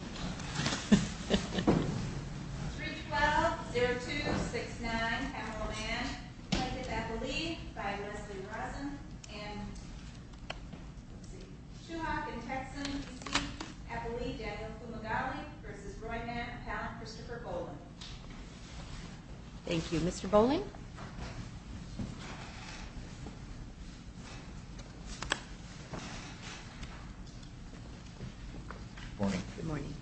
312-0269, Camelot Mann v. Eppley by Lesley Rosen and Shuhawk in Texan v. Eppley, Daniel Kumagali v. Roy Mann, appellant Christopher Boling. Thank you, Mr. Boling. Good morning. Good morning.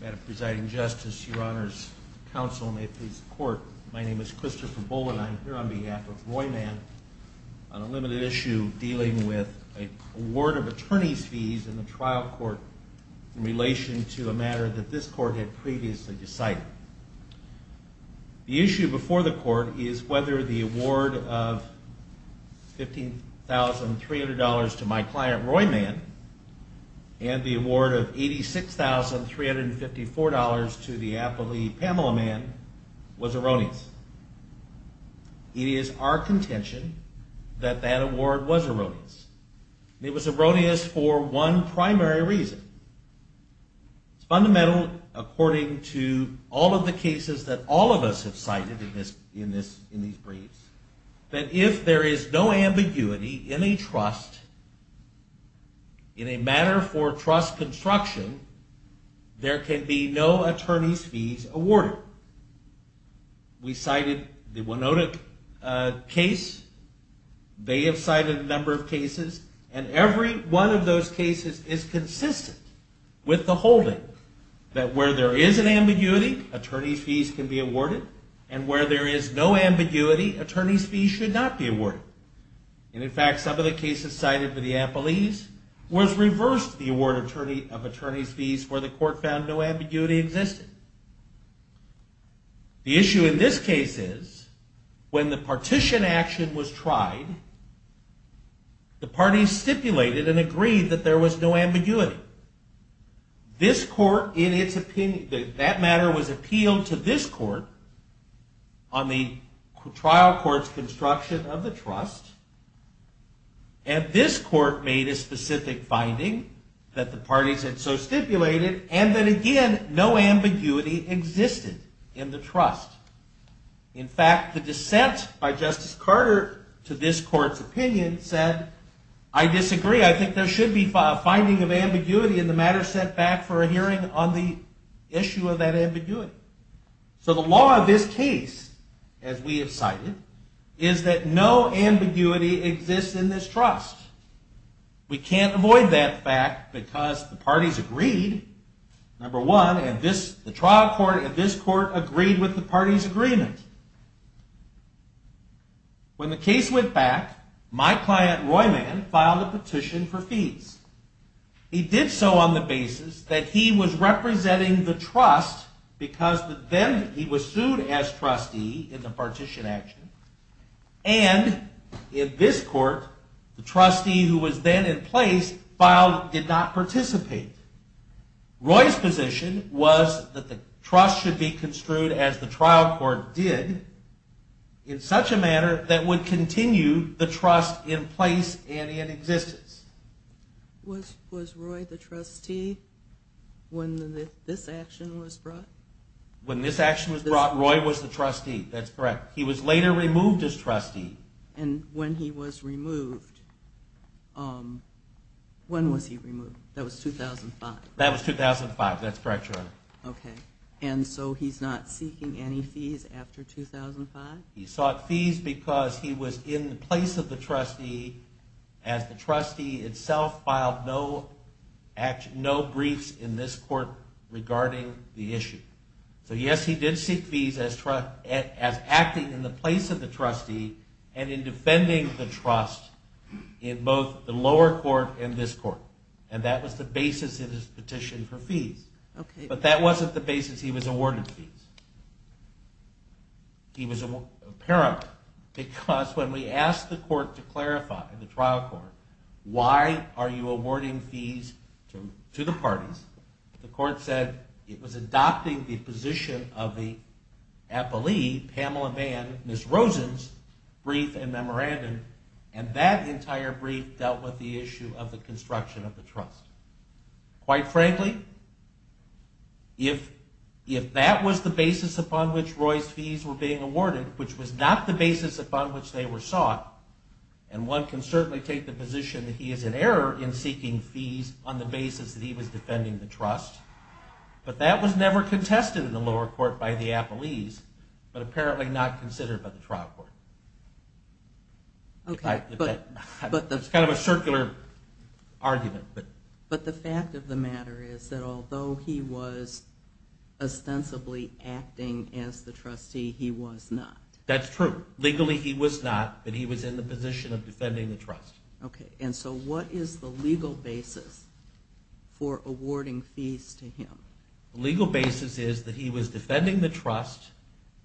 Madam Presiding Justice, Your Honors Counsel, and may it please the Court, my name is Christopher Boling. I'm here on behalf of Roy Mann on a limited issue dealing with a word of attorney's fees in the trial court in relation to a matter that this court had previously decided. The issue before the court is whether the award of $15,300 to my client, Roy Mann, and the award of $86,354 to the appellee, Camelot Mann, was erroneous. It is our contention that that award was erroneous. It was erroneous for one primary reason. It's fundamental, according to all of the cases that all of us have cited in these briefs, that if there is no ambiguity in a trust, in a matter for trust construction, there can be no attorney's fees awarded. We cited the Winota case. They have cited a number of cases. And every one of those cases is consistent with the holding that where there is an ambiguity, attorney's fees can be awarded. And where there is no ambiguity, attorney's fees should not be awarded. And, in fact, some of the cases cited for the appellees was reversed the award of attorney's fees where the court found no ambiguity existed. The issue in this case is when the partition action was tried, the parties stipulated and agreed that there was no ambiguity. This court, in its opinion, that matter was appealed to this court on the trial court's construction of the trust. And this court made a specific finding that the parties had so stipulated and that, again, no ambiguity existed in the trust. In fact, the dissent by Justice Carter to this court's opinion said, I disagree. I think there should be a finding of ambiguity in the matter set back for a hearing on the issue of that ambiguity. So the law of this case, as we have cited, is that no ambiguity exists in this trust. We can't avoid that fact because the parties agreed, number one, and the trial court and this court agreed with the parties' agreement. When the case went back, my client, Roy Mann, filed a petition for fees. He did so on the basis that he was representing the trust because then he was sued as trustee in the partition action. And in this court, the trustee who was then in place did not participate. Roy's position was that the trust should be construed as the trial court did in such a manner that would continue the trust in place and in existence. Was Roy the trustee when this action was brought? When this action was brought, Roy was the trustee. That's correct. He was later removed as trustee. And when he was removed, when was he removed? That was 2005. That was 2005. That's correct, Your Honor. Okay. And so he's not seeking any fees after 2005? He sought fees because he was in the place of the trustee as the trustee itself filed no briefs in this court regarding the issue. So yes, he did seek fees as acting in the place of the trustee and in defending the trust in both the lower court and this court. And that was the basis of his petition for fees. Okay. But that wasn't the basis he was awarded fees. He was apparent because when we asked the court to clarify, the trial court, why are you awarding fees to the parties, the court said it was adopting the position of the appellee, Pamela Vann, Ms. Rosen's brief and memorandum, and that entire brief dealt with the issue of the construction of the trust. Quite frankly, if that was the basis upon which Roy's fees were being awarded, which was not the basis upon which they were sought, and one can certainly take the position that he is in error in seeking fees on the basis that he was defending the trust, but that was never contested in the lower court by the appellees, but apparently not considered by the trial court. Okay. It's kind of a circular argument. But the fact of the matter is that although he was ostensibly acting as the trustee, he was not. That's true. Legally, he was not, but he was in the position of defending the trust. Okay. And so what is the legal basis for awarding fees to him? The legal basis is that he was defending the trust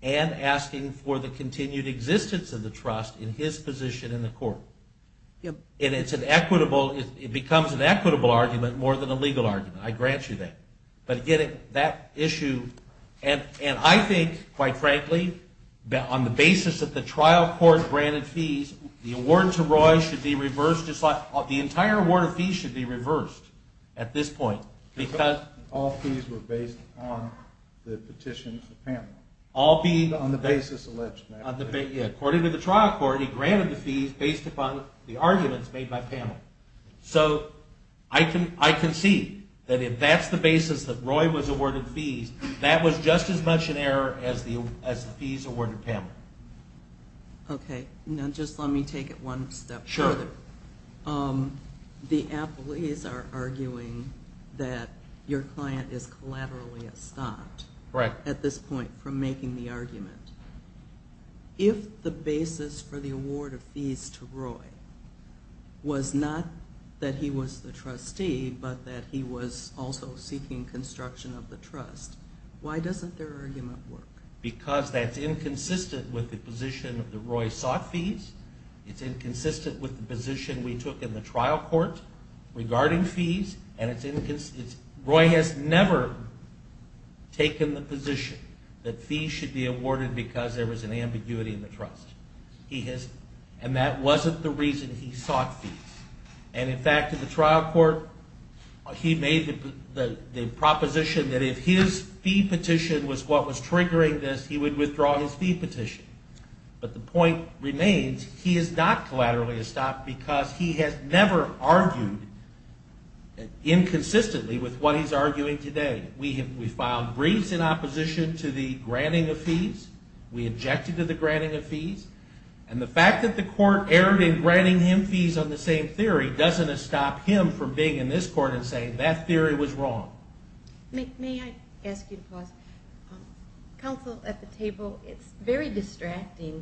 and asking for the continued existence of the trust in his position in the court. And it's an equitable, it becomes an equitable argument more than a legal argument. I grant you that. But again, that issue, and I think, quite frankly, on the basis that the trial court granted fees, the award to Roy should be reversed, the entire award of fees should be reversed at this point. Because? All fees were based on the petitions of Pamela. All fees? On the basis alleged. According to the trial court, he granted the fees based upon the arguments made by Pamela. So I concede that if that's the basis that Roy was awarded fees, that was just as much an error as the fees awarded Pamela. Okay. Now just let me take it one step further. Sure. The appellees are arguing that your client is collaterally stopped at this point from making the argument. If the basis for the award of fees to Roy was not that he was the trustee, but that he was also seeking construction of the trust, why doesn't their argument work? Because that's inconsistent with the position that Roy sought fees. It's inconsistent with the position we took in the trial court regarding fees, and Roy has never taken the position that fees should be awarded because there was an ambiguity in the trust. And that wasn't the reason he sought fees. And, in fact, in the trial court, he made the proposition that if his fee petition was what was triggering this, he would withdraw his fee petition. But the point remains he is not collaterally stopped because he has never argued inconsistently with what he's arguing today. We filed briefs in opposition to the granting of fees. We objected to the granting of fees. And the fact that the court erred in granting him fees on the same theory doesn't stop him from being in this court and saying that theory was wrong. May I ask you to pause? Counsel, at the table, it's very distracting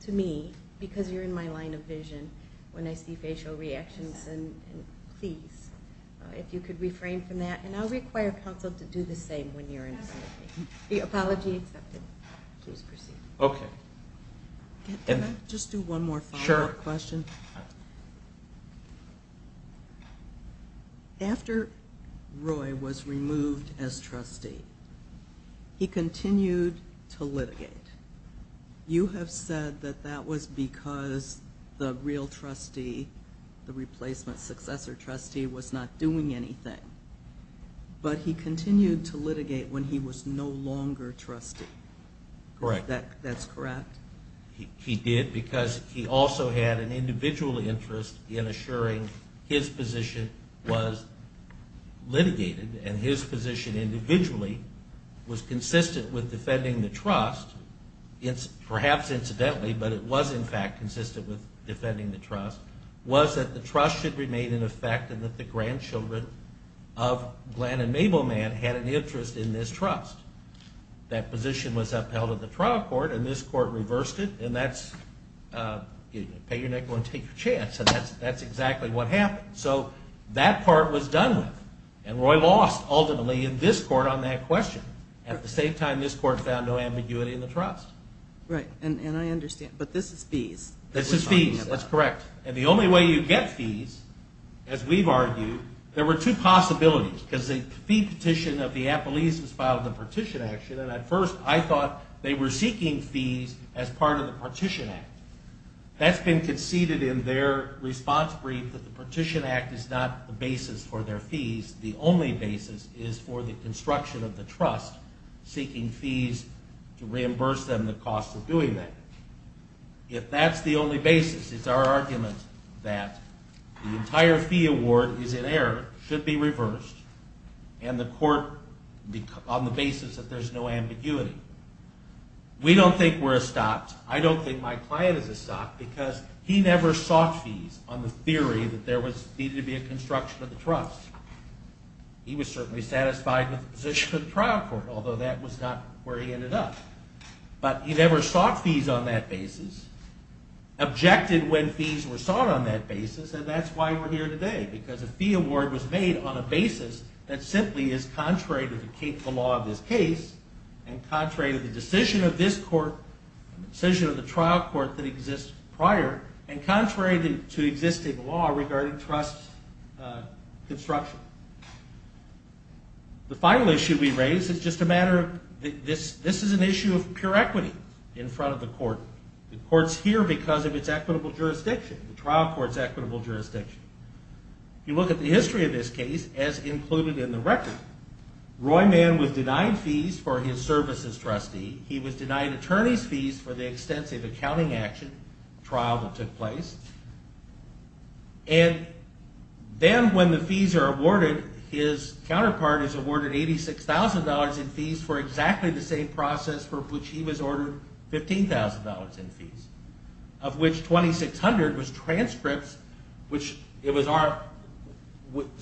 to me because you're in my line of vision when I see facial reactions, and please, if you could refrain from that. And I'll require counsel to do the same when you're in front of me. The apology accepted. Please proceed. Okay. Can I just do one more follow-up question? Sure. After Roy was removed as trustee, he continued to litigate. You have said that that was because the real trustee, the replacement successor trustee, was not doing anything. But he continued to litigate when he was no longer trustee. Correct. That's correct? He did because he also had an individual interest in assuring his position was litigated, and his position individually was consistent with defending the trust, perhaps incidentally, but it was in fact consistent with defending the trust, was that the trust should remain in effect and that the grandchildren of Glenn and Mabel Mann had an interest in this trust. That position was upheld in the trial court, and this court reversed it, and that's pay your next one, take your chance, and that's exactly what happened. So that part was done with, and Roy lost ultimately in this court on that question. At the same time, this court found no ambiguity in the trust. Right. And I understand, but this is fees. This is fees. That's correct. And the only way you get fees, as we've argued, there were two possibilities because the fee petition of the Appellees was filed in the partition action, and at first I thought they were seeking fees as part of the partition act. That's been conceded in their response brief that the partition act is not the basis for their fees. The only basis is for the construction of the trust, seeking fees to reimburse them the cost of doing that. If that's the only basis, it's our argument that the entire fee award is in error, should be reversed, and the court, on the basis that there's no ambiguity. We don't think we're a stop. I don't think my client is a stop because he never sought fees on the theory that there needed to be a construction of the trust. He was certainly satisfied with the position of the trial court, although that was not where he ended up. But he never sought fees on that basis, objected when fees were sought on that basis, and that's why we're here today, because a fee award was made on a basis that simply is contrary to the law of this case and contrary to the decision of this court, the decision of the trial court that exists prior, and contrary to existing law regarding trust construction. The final issue we raise is just a matter of this is an issue of pure equity in front of the court. The court's here because of its equitable jurisdiction. The trial court's equitable jurisdiction. If you look at the history of this case, as included in the record, Roy Mann was denied fees for his services trustee. He was denied attorney's fees for the extensive accounting action trial that took place. And then when the fees are awarded, his counterpart is awarded $86,000 in fees for exactly the same process for which he was ordered $15,000 in fees, of which $2,600 was transcripts, which it was our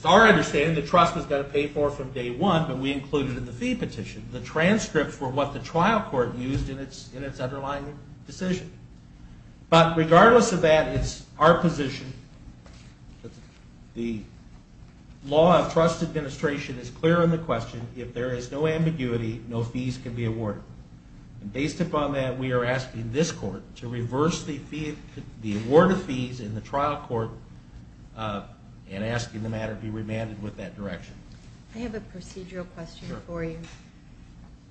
understanding the trust was going to pay for from day one, but we included in the fee petition. The transcripts were what the trial court used in its underlying decision. But regardless of that, it's our position that the law of trust administration is clear on the question, if there is no ambiguity, no fees can be awarded. And based upon that, we are asking this court to reverse the award of fees in the trial court and asking the matter be remanded with that direction. I have a procedural question for you.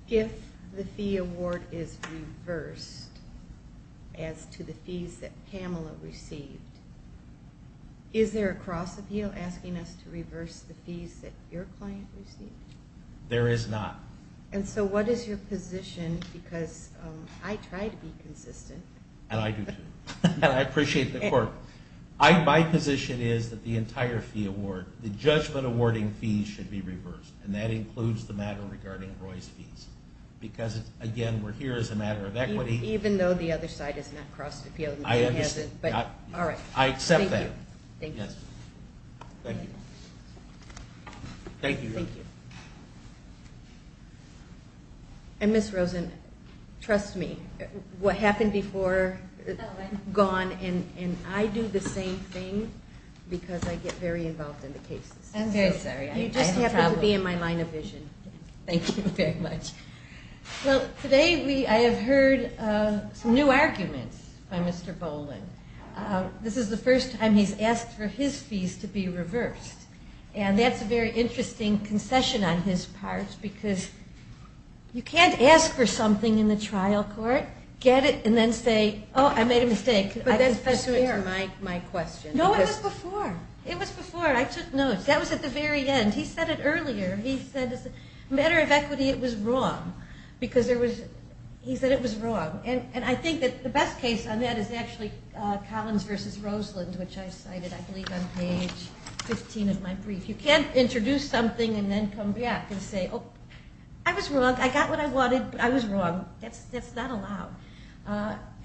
If the fee award is reversed as to the fees that Pamela received, is there a cross appeal asking us to reverse the fees that your client received? There is not. And so what is your position, because I try to be consistent. And I do too. And I appreciate the court. My position is that the entire fee award, the judgment awarding fees should be reversed, and that includes the matter regarding Roy's fees. Because, again, we're here as a matter of equity. Even though the other side has not crossed appeal. I understand. All right. I accept that. Thank you. Yes. Thank you. Thank you. Thank you. And, Ms. Rosen, trust me, what happened before is gone, and I do the same thing because I get very involved in the cases. I'm very sorry. You just happen to be in my line of vision. Thank you very much. Well, today I have heard some new arguments by Mr. Boland. This is the first time he's asked for his fees to be reversed, and that's a very interesting concession on his part because you can't ask for something in the trial court, get it, and then say, oh, I made a mistake. But that's pursuant to my question. No, it was before. It was before. I took notes. That was at the very end. He said it earlier. He said, as a matter of equity, it was wrong because he said it was wrong. And I think that the best case on that is actually Collins versus Roseland, which I cited, I believe, on page 15 of my brief. You can't introduce something and then come back and say, oh, I was wrong. I got what I wanted, but I was wrong. That's not allowed.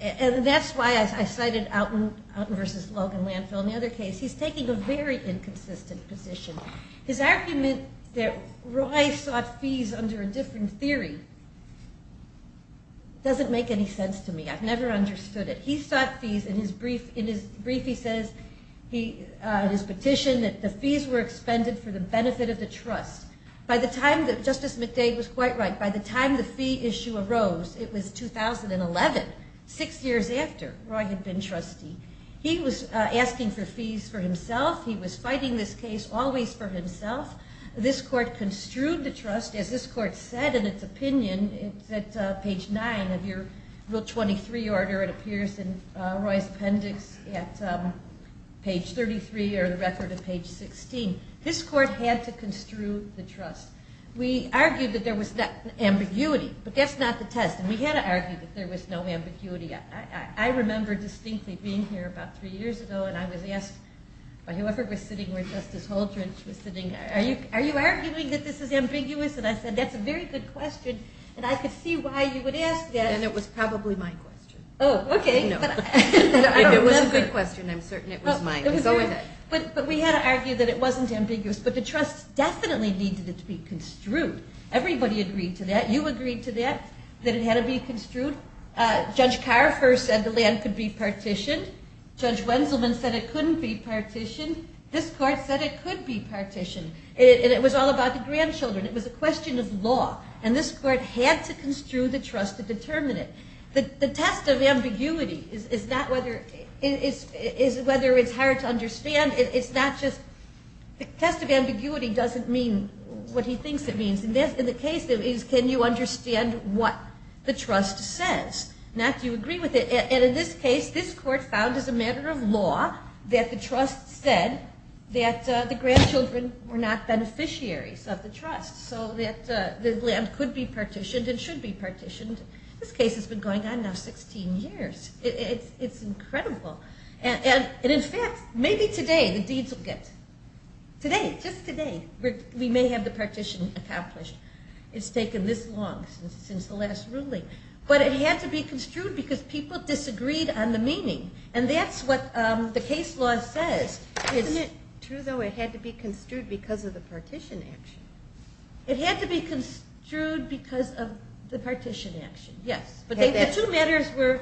And that's why I cited Outen versus Logan Landfill. In the other case, he's taking a very inconsistent position. His argument that Roy sought fees under a different theory doesn't make any sense to me. I've never understood it. He sought fees. In his brief, he says in his petition that the fees were expended for the benefit of the trust. Justice McDade was quite right. By the time the fee issue arose, it was 2011, six years after Roy had been trustee. He was asking for fees for himself. He was fighting this case always for himself. This court construed the trust. As this court said in its opinion, it's at page 9 of your Rule 23 order. It appears in Roy's appendix at page 33 or the record of page 16. This court had to construe the trust. We argued that there was no ambiguity, but that's not the test. We had argued that there was no ambiguity. I remember distinctly being here about three years ago, and I was asked by whoever was sitting where Justice Holdren was sitting, are you arguing that this is ambiguous? And I said, that's a very good question, and I could see why you would ask that. And it was probably my question. Oh, okay. If it was a good question, I'm certain it was mine. Go with it. But we had argued that it wasn't ambiguous, but the trust definitely needed it to be construed. Everybody agreed to that. You agreed to that, that it had to be construed. Judge Carver said the land could be partitioned. Judge Wenselman said it couldn't be partitioned. This court said it could be partitioned. And it was all about the grandchildren. It was a question of law. And this court had to construe the trust to determine it. The test of ambiguity is not whether it's hard to understand. It's not just the test of ambiguity doesn't mean what he thinks it means. And the case is, can you understand what the trust says? Now, do you agree with it? And in this case, this court found as a matter of law that the trust said that the grandchildren were not beneficiaries of the trust, so that the land could be partitioned and should be partitioned. This case has been going on now 16 years. It's incredible. And, in fact, maybe today the deeds will get, today, just today, we may have the partition accomplished. It's taken this long since the last ruling. But it had to be construed because people disagreed on the meaning. And that's what the case law says. Isn't it true, though, it had to be construed because of the partition action? It had to be construed because of the partition action, yes. But the two matters were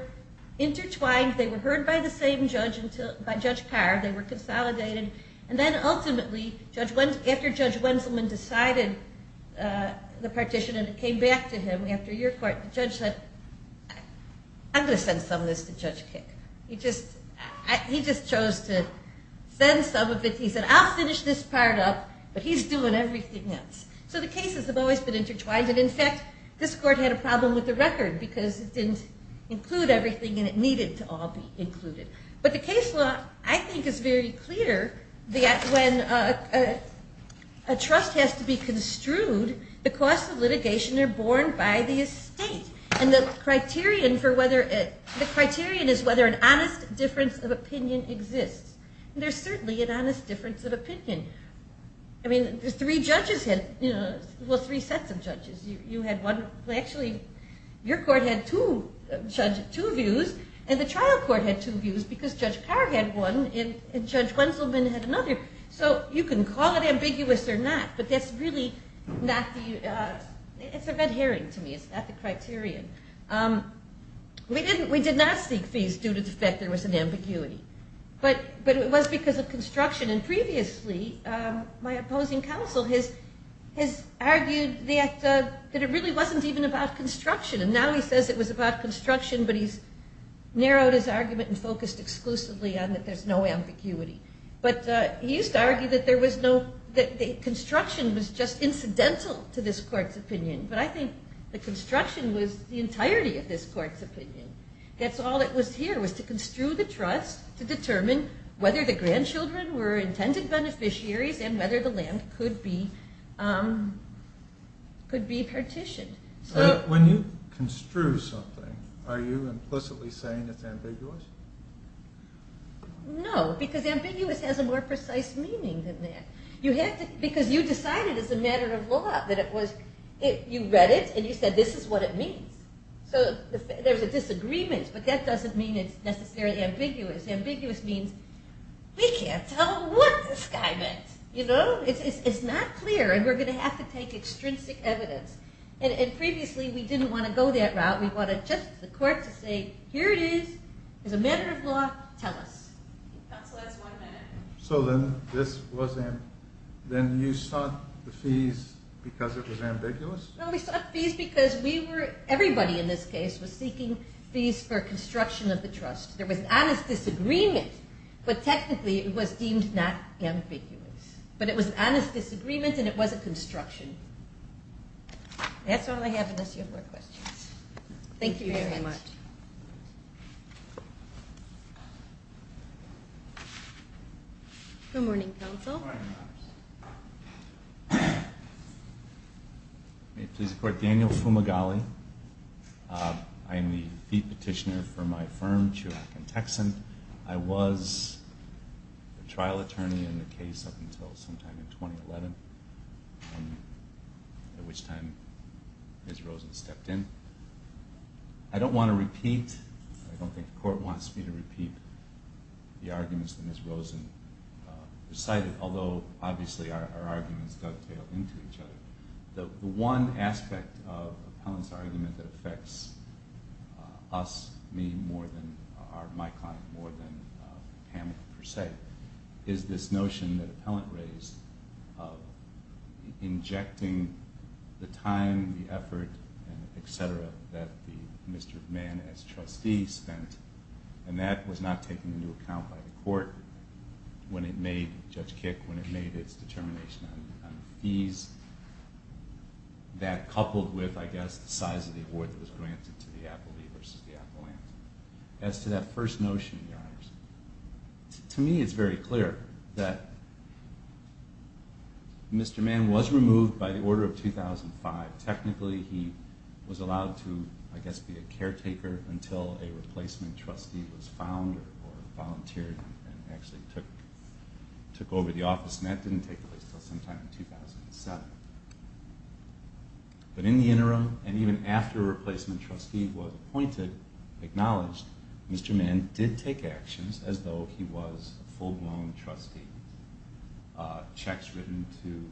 intertwined. They were heard by the same judge, by Judge Carr. They were consolidated. And then, ultimately, after Judge Wenselman decided the partition and it came back to him after your court, the judge said, I'm going to send some of this to Judge Kick. He just chose to send some of it. He said, I'll finish this part up, but he's doing everything else. So the cases have always been intertwined. And, in fact, this court had a problem with the record because it didn't include everything, and it needed to all be included. But the case law, I think, is very clear that when a trust has to be construed, the costs of litigation are borne by the estate. And the criterion is whether an honest difference of opinion exists. And there's certainly an honest difference of opinion. I mean, three judges had, well, three sets of judges. You had one, well, actually, your court had two views, and the trial court had two views because Judge Carr had one and Judge Wenselman had another. So you can call it ambiguous or not, but that's really not the – it's a red herring to me. It's not the criterion. We did not seek fees due to the fact there was an ambiguity, but it was because of construction. And previously, my opposing counsel has argued that it really wasn't even about construction, and now he says it was about construction, but he's narrowed his argument and focused exclusively on that there's no ambiguity. But he used to argue that construction was just incidental to this court's opinion. But I think the construction was the entirety of this court's opinion. That's all it was here, was to construe the trust to determine whether the grandchildren were intended beneficiaries and whether the land could be partitioned. When you construe something, are you implicitly saying it's ambiguous? No, because ambiguous has a more precise meaning than that. Because you decided as a matter of law that it was – you read it and you said this is what it means. So there's a disagreement, but that doesn't mean it's necessarily ambiguous. Ambiguous means we can't tell what this guy meant. It's not clear, and we're going to have to take extrinsic evidence. And previously, we didn't want to go that route. We wanted just the court to say, here it is. As a matter of law, tell us. Counsel, that's one minute. So then you sought the fees because it was ambiguous? No, we sought fees because we were – everybody in this case was seeking fees for construction of the trust. There was an honest disagreement, but technically it was deemed not ambiguous. But it was an honest disagreement, and it was a construction. That's all I have unless you have more questions. Thank you very much. Good morning, counsel. May it please the Court, Daniel Fumagalli. I am the fee petitioner for my firm, Chirac & Texan. I was a trial attorney in the case up until sometime in 2011. At which time Ms. Rosen stepped in. I don't want to repeat – I don't think the Court wants me to repeat the arguments that Ms. Rosen recited, although obviously our arguments dovetail into each other. The one aspect of Appellant's argument that affects us, me more than – my client more than Hamlet, per se, is this notion that Appellant raised of injecting the time, the effort, et cetera, that the Mr. Mann as trustee spent. And that was not taken into account by the Court when it made – Judge Kick – when it made its determination on the fees. That coupled with, I guess, the size of the award that was granted to the appellee versus the appellant. As to that first notion, Your Honors, to me it's very clear that Mr. Mann was removed by the order of 2005. Technically he was allowed to, I guess, be a caretaker until a replacement trustee was found or volunteered and actually took over the office. And that didn't take place until sometime in 2007. But in the interim, and even after a replacement trustee was appointed, we should acknowledge Mr. Mann did take actions as though he was a full-blown trustee. Checks written to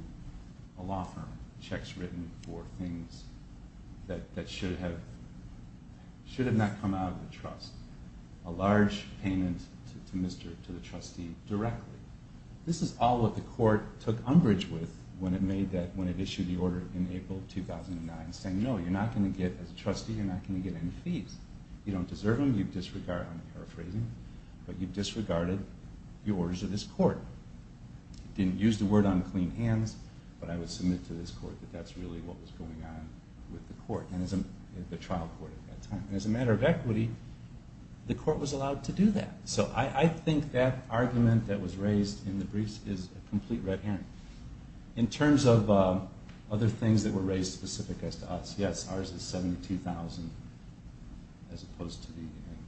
a law firm. Checks written for things that should have not come out of the trust. A large payment to the trustee directly. This is all what the Court took umbrage with when it made that – when it issued the order in April 2009, saying, no, you're not going to get, as a trustee, you're not going to get any fees. You don't deserve them. You've disregarded, I'm paraphrasing, but you've disregarded the orders of this Court. Didn't use the word unclean hands, but I would submit to this Court that that's really what was going on with the Court, the trial court at that time. And as a matter of equity, the Court was allowed to do that. So I think that argument that was raised in the briefs is a complete red herring. In terms of other things that were raised specific as to us, yes, ours is $72,000 as opposed to the, and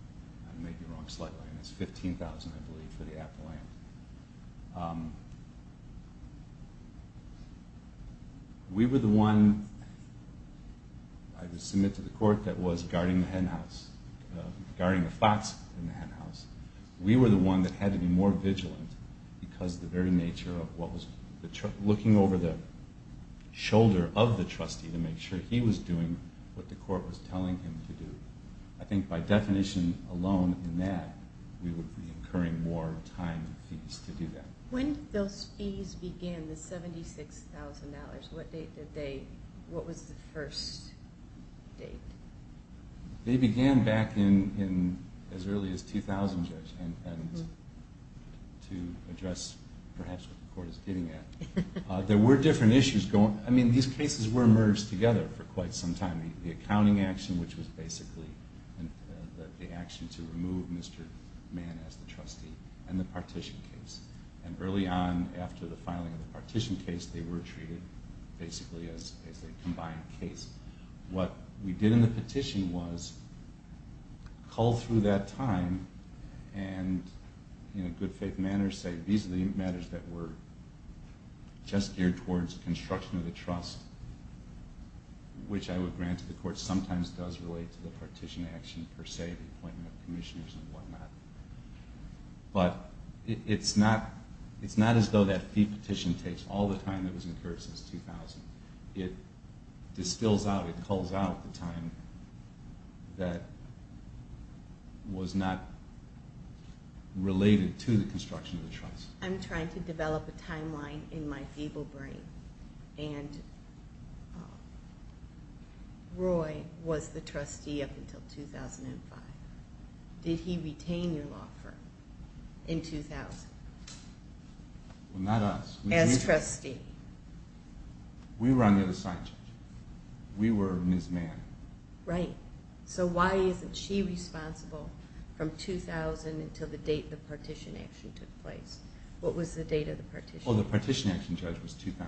I may be wrong slightly, and it's $15,000, I believe, for the Appalachian. We were the one, I would submit to the Court, that was guarding the hen house, guarding the flats in the hen house. We were the one that had to be more vigilant because of the very nature of what was, looking over the shoulder of the trustee to make sure he was doing what the Court was telling him to do. I think by definition alone in that, we would be incurring more time and fees to do that. When those fees began, the $76,000, what date did they, what was the first date? They began back in as early as 2000, Judge, and to address perhaps what the Court is getting at, there were different issues going, I mean these cases were merged together for quite some time. The accounting action, which was basically the action to remove Mr. Mann as the trustee, and the partition case. And early on after the filing of the partition case, they were treated basically as a combined case. What we did in the petition was cull through that time and in a good faith manner say, these are the matters that were just geared towards construction of the trust, which I would grant to the Court, sometimes does relate to the partition action per se, the appointment of commissioners and whatnot. But it's not as though that fee petition takes all the time that was incurred since 2000. It distills out, it culls out the time that was not related to the construction of the trust. I'm trying to develop a timeline in my feeble brain. And Roy was the trustee up until 2005. Did he retain your law firm in 2000? Well, not us. As trustee. We were on the other side, Judge. We were Ms. Mann. Right. So why isn't she responsible from 2000 until the date the partition action took place? What was the date of the partition? Well, the partition action, Judge, was 2000.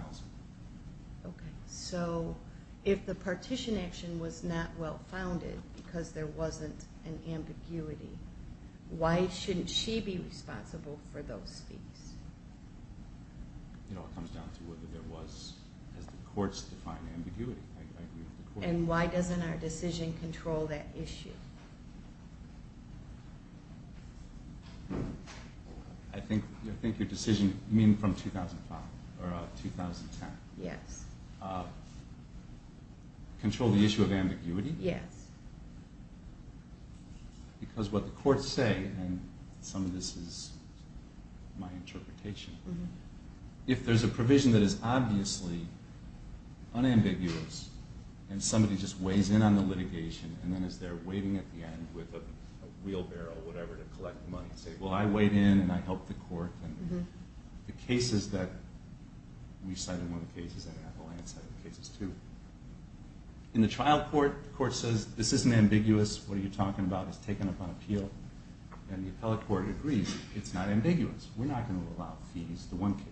Okay. So if the partition action was not well-founded because there wasn't an ambiguity, why shouldn't she be responsible for those fees? It all comes down to whether there was, as the courts define, ambiguity. I agree with the court. And why doesn't our decision control that issue? I think your decision, you mean from 2005 or 2010? Yes. Control the issue of ambiguity? Yes. Because what the courts say, and some of this is my interpretation, if there's a provision that is obviously unambiguous and somebody just weighs in on the litigation and then is there waiting at the end with a wheelbarrow or whatever to collect the money and say, well, I weighed in and I helped the court. The cases that we cited, one of the cases that Appalachian cited, the cases too. In the trial court, the court says, this isn't ambiguous. What are you talking about? It's taken up on appeal. And the appellate court agrees it's not ambiguous. We're not going to allow fees, the one case.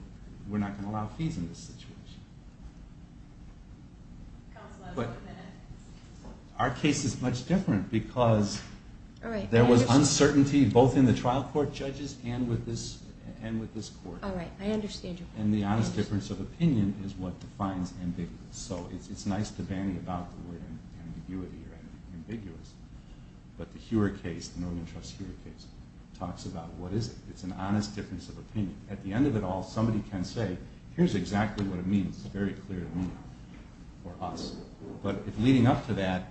We're not going to allow fees in this situation. But our case is much different because there was uncertainty both in the trial court judges and with this court. All right. I understand your point. And the honest difference of opinion is what defines ambiguous. So it's nice to bandy about the word ambiguity or ambiguous, but the Huer case, the Northern Trust Huer case, talks about what is it. It's an honest difference of opinion. At the end of it all, somebody can say, here's exactly what it means. It's very clear to me or us. But leading up to that,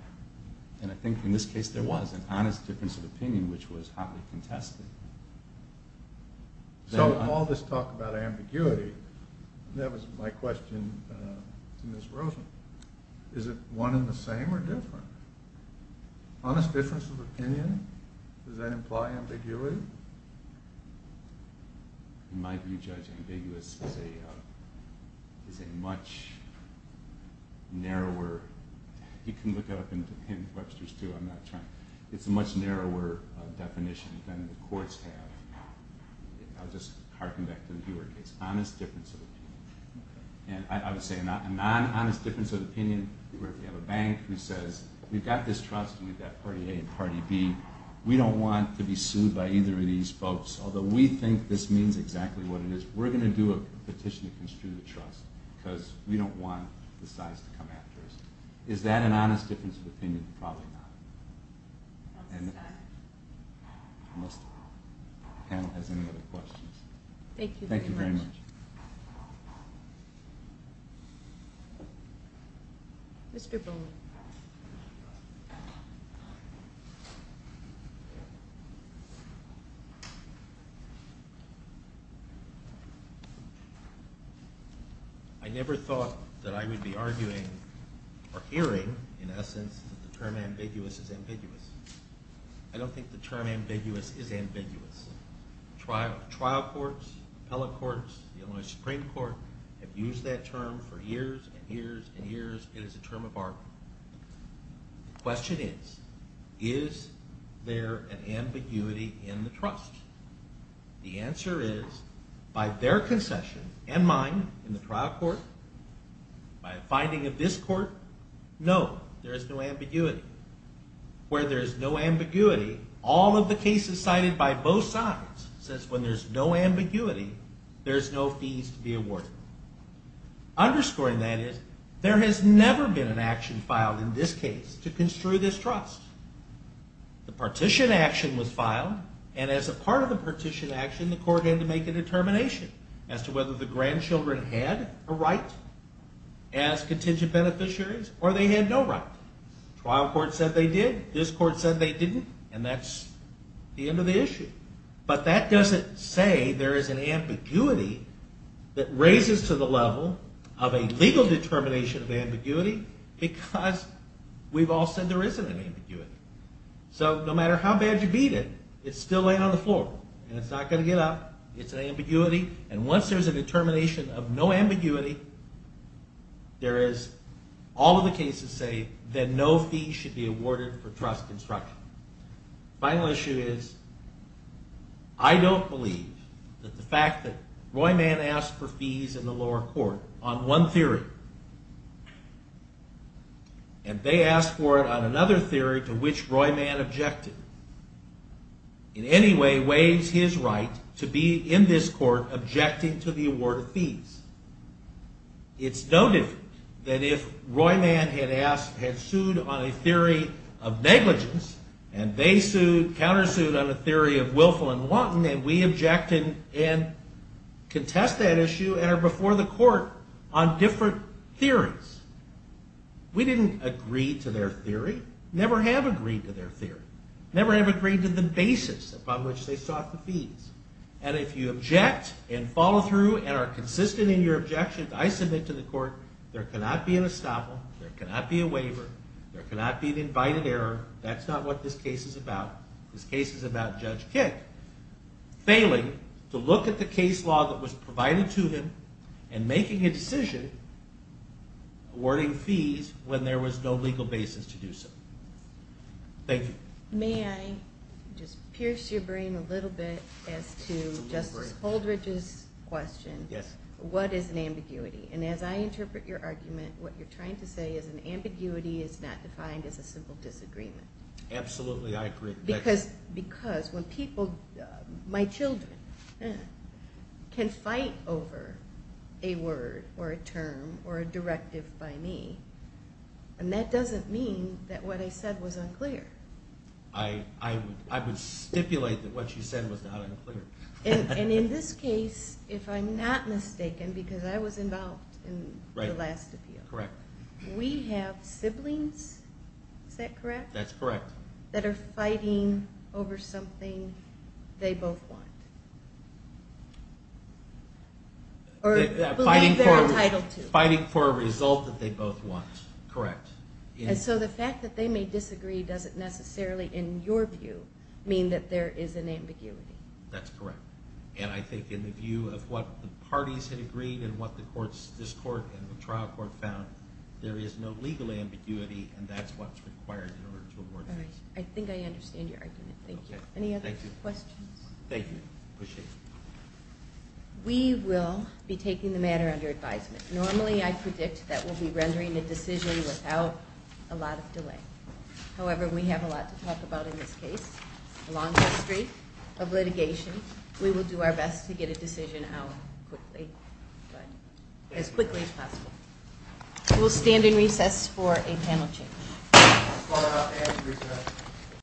and I think in this case there was, an honest difference of opinion which was hotly contested. So all this talk about ambiguity, that was my question to Ms. Rosen. Is it one and the same or different? Honest difference of opinion, does that imply ambiguity? In my view, judge, ambiguous is a much narrower, you can look it up in Webster's too, I'm not trying, it's a much narrower definition than the courts have. I'll just harken back to the Huer case. Honest difference of opinion. And I would say a non-honest difference of opinion where if you have a bank who says, we've got this trust and we've got party A and party B, we don't want to be sued by either of these folks. Although we think this means exactly what it is, we're going to do a petition to construe the trust because we don't want the size to come after us. Is that an honest difference of opinion? Probably not. Unless the panel has any other questions. Thank you very much. Mr. Bowman. I never thought that I would be arguing or hearing, in essence, that the term ambiguous is ambiguous. I don't think the term ambiguous is ambiguous. Trial courts, appellate courts, the Illinois Supreme Court have used that term for years and years and years. It is a term of argument. The question is, is there an ambiguity in the trust? The answer is, by their concession and mine in the trial court, by a finding of this court, no, there is no ambiguity. Where there is no ambiguity, all of the cases cited by both sides says when there's no ambiguity, there's no fees to be awarded. Underscoring that is, there has never been an action filed in this case to construe this trust. The partition action was filed, and as a part of the partition action, the court had to make a determination as to whether the grandchildren had a right as contingent beneficiaries, or they had no right. Trial court said they did. This court said they didn't. And that's the end of the issue. But that doesn't say there is an ambiguity that raises to the level of a legal determination of ambiguity because we've all said there isn't an ambiguity. So no matter how bad you beat it, it's still laying on the floor, and it's not going to get up. It's an ambiguity, and once there's a determination of no ambiguity, there is all of the cases say that no fees should be awarded for trust construction. Final issue is, I don't believe that the fact that Roy Mann asked for fees in the lower court on one theory and they asked for it on another theory to which Roy Mann objected in any way waives his right to be in this court objecting to the award of fees. It's noted that if Roy Mann had sued on a theory of negligence, and they countersued on a theory of willful and wanton, and we object and contest that issue and are before the court on different theories, we didn't agree to their theory, never have agreed to their theory, never have agreed to the basis upon which they sought the fees. And if you object and follow through and are consistent in your objections, I submit to the court, there cannot be an estoppel, there cannot be a waiver, there cannot be an invited error. That's not what this case is about. This case is about Judge Kick failing to look at the case law that was provided to him and making a decision awarding fees when there was no legal basis to do so. Thank you. May I just pierce your brain a little bit as to Justice Holdridge's question? Yes. What is an ambiguity? And as I interpret your argument, what you're trying to say is an ambiguity is not defined as a simple disagreement. Absolutely, I agree. Because when people, my children, can fight over a word or a term or a directive by me, and that doesn't mean that what I said was unclear. I would stipulate that what you said was not unclear. And in this case, if I'm not mistaken, because I was involved in the last appeal, we have siblings, is that correct? That's correct. That are fighting over something they both want. Or believe they're entitled to. Fighting for a result that they both want. Correct. And so the fact that they may disagree doesn't necessarily, in your view, mean that there is an ambiguity. That's correct. And I think in the view of what the parties had agreed and what this court and the trial court found, there is no legal ambiguity, and that's what's required in order to award a case. All right. I think I understand your argument. Thank you. Any other questions? Thank you. Appreciate it. We will be taking the matter under advisement. Normally I predict that we'll be rendering a decision without a lot of delay. However, we have a lot to talk about in this case. A long history of litigation. We will do our best to get a decision out quickly. As quickly as possible. We'll stand in recess for a panel change.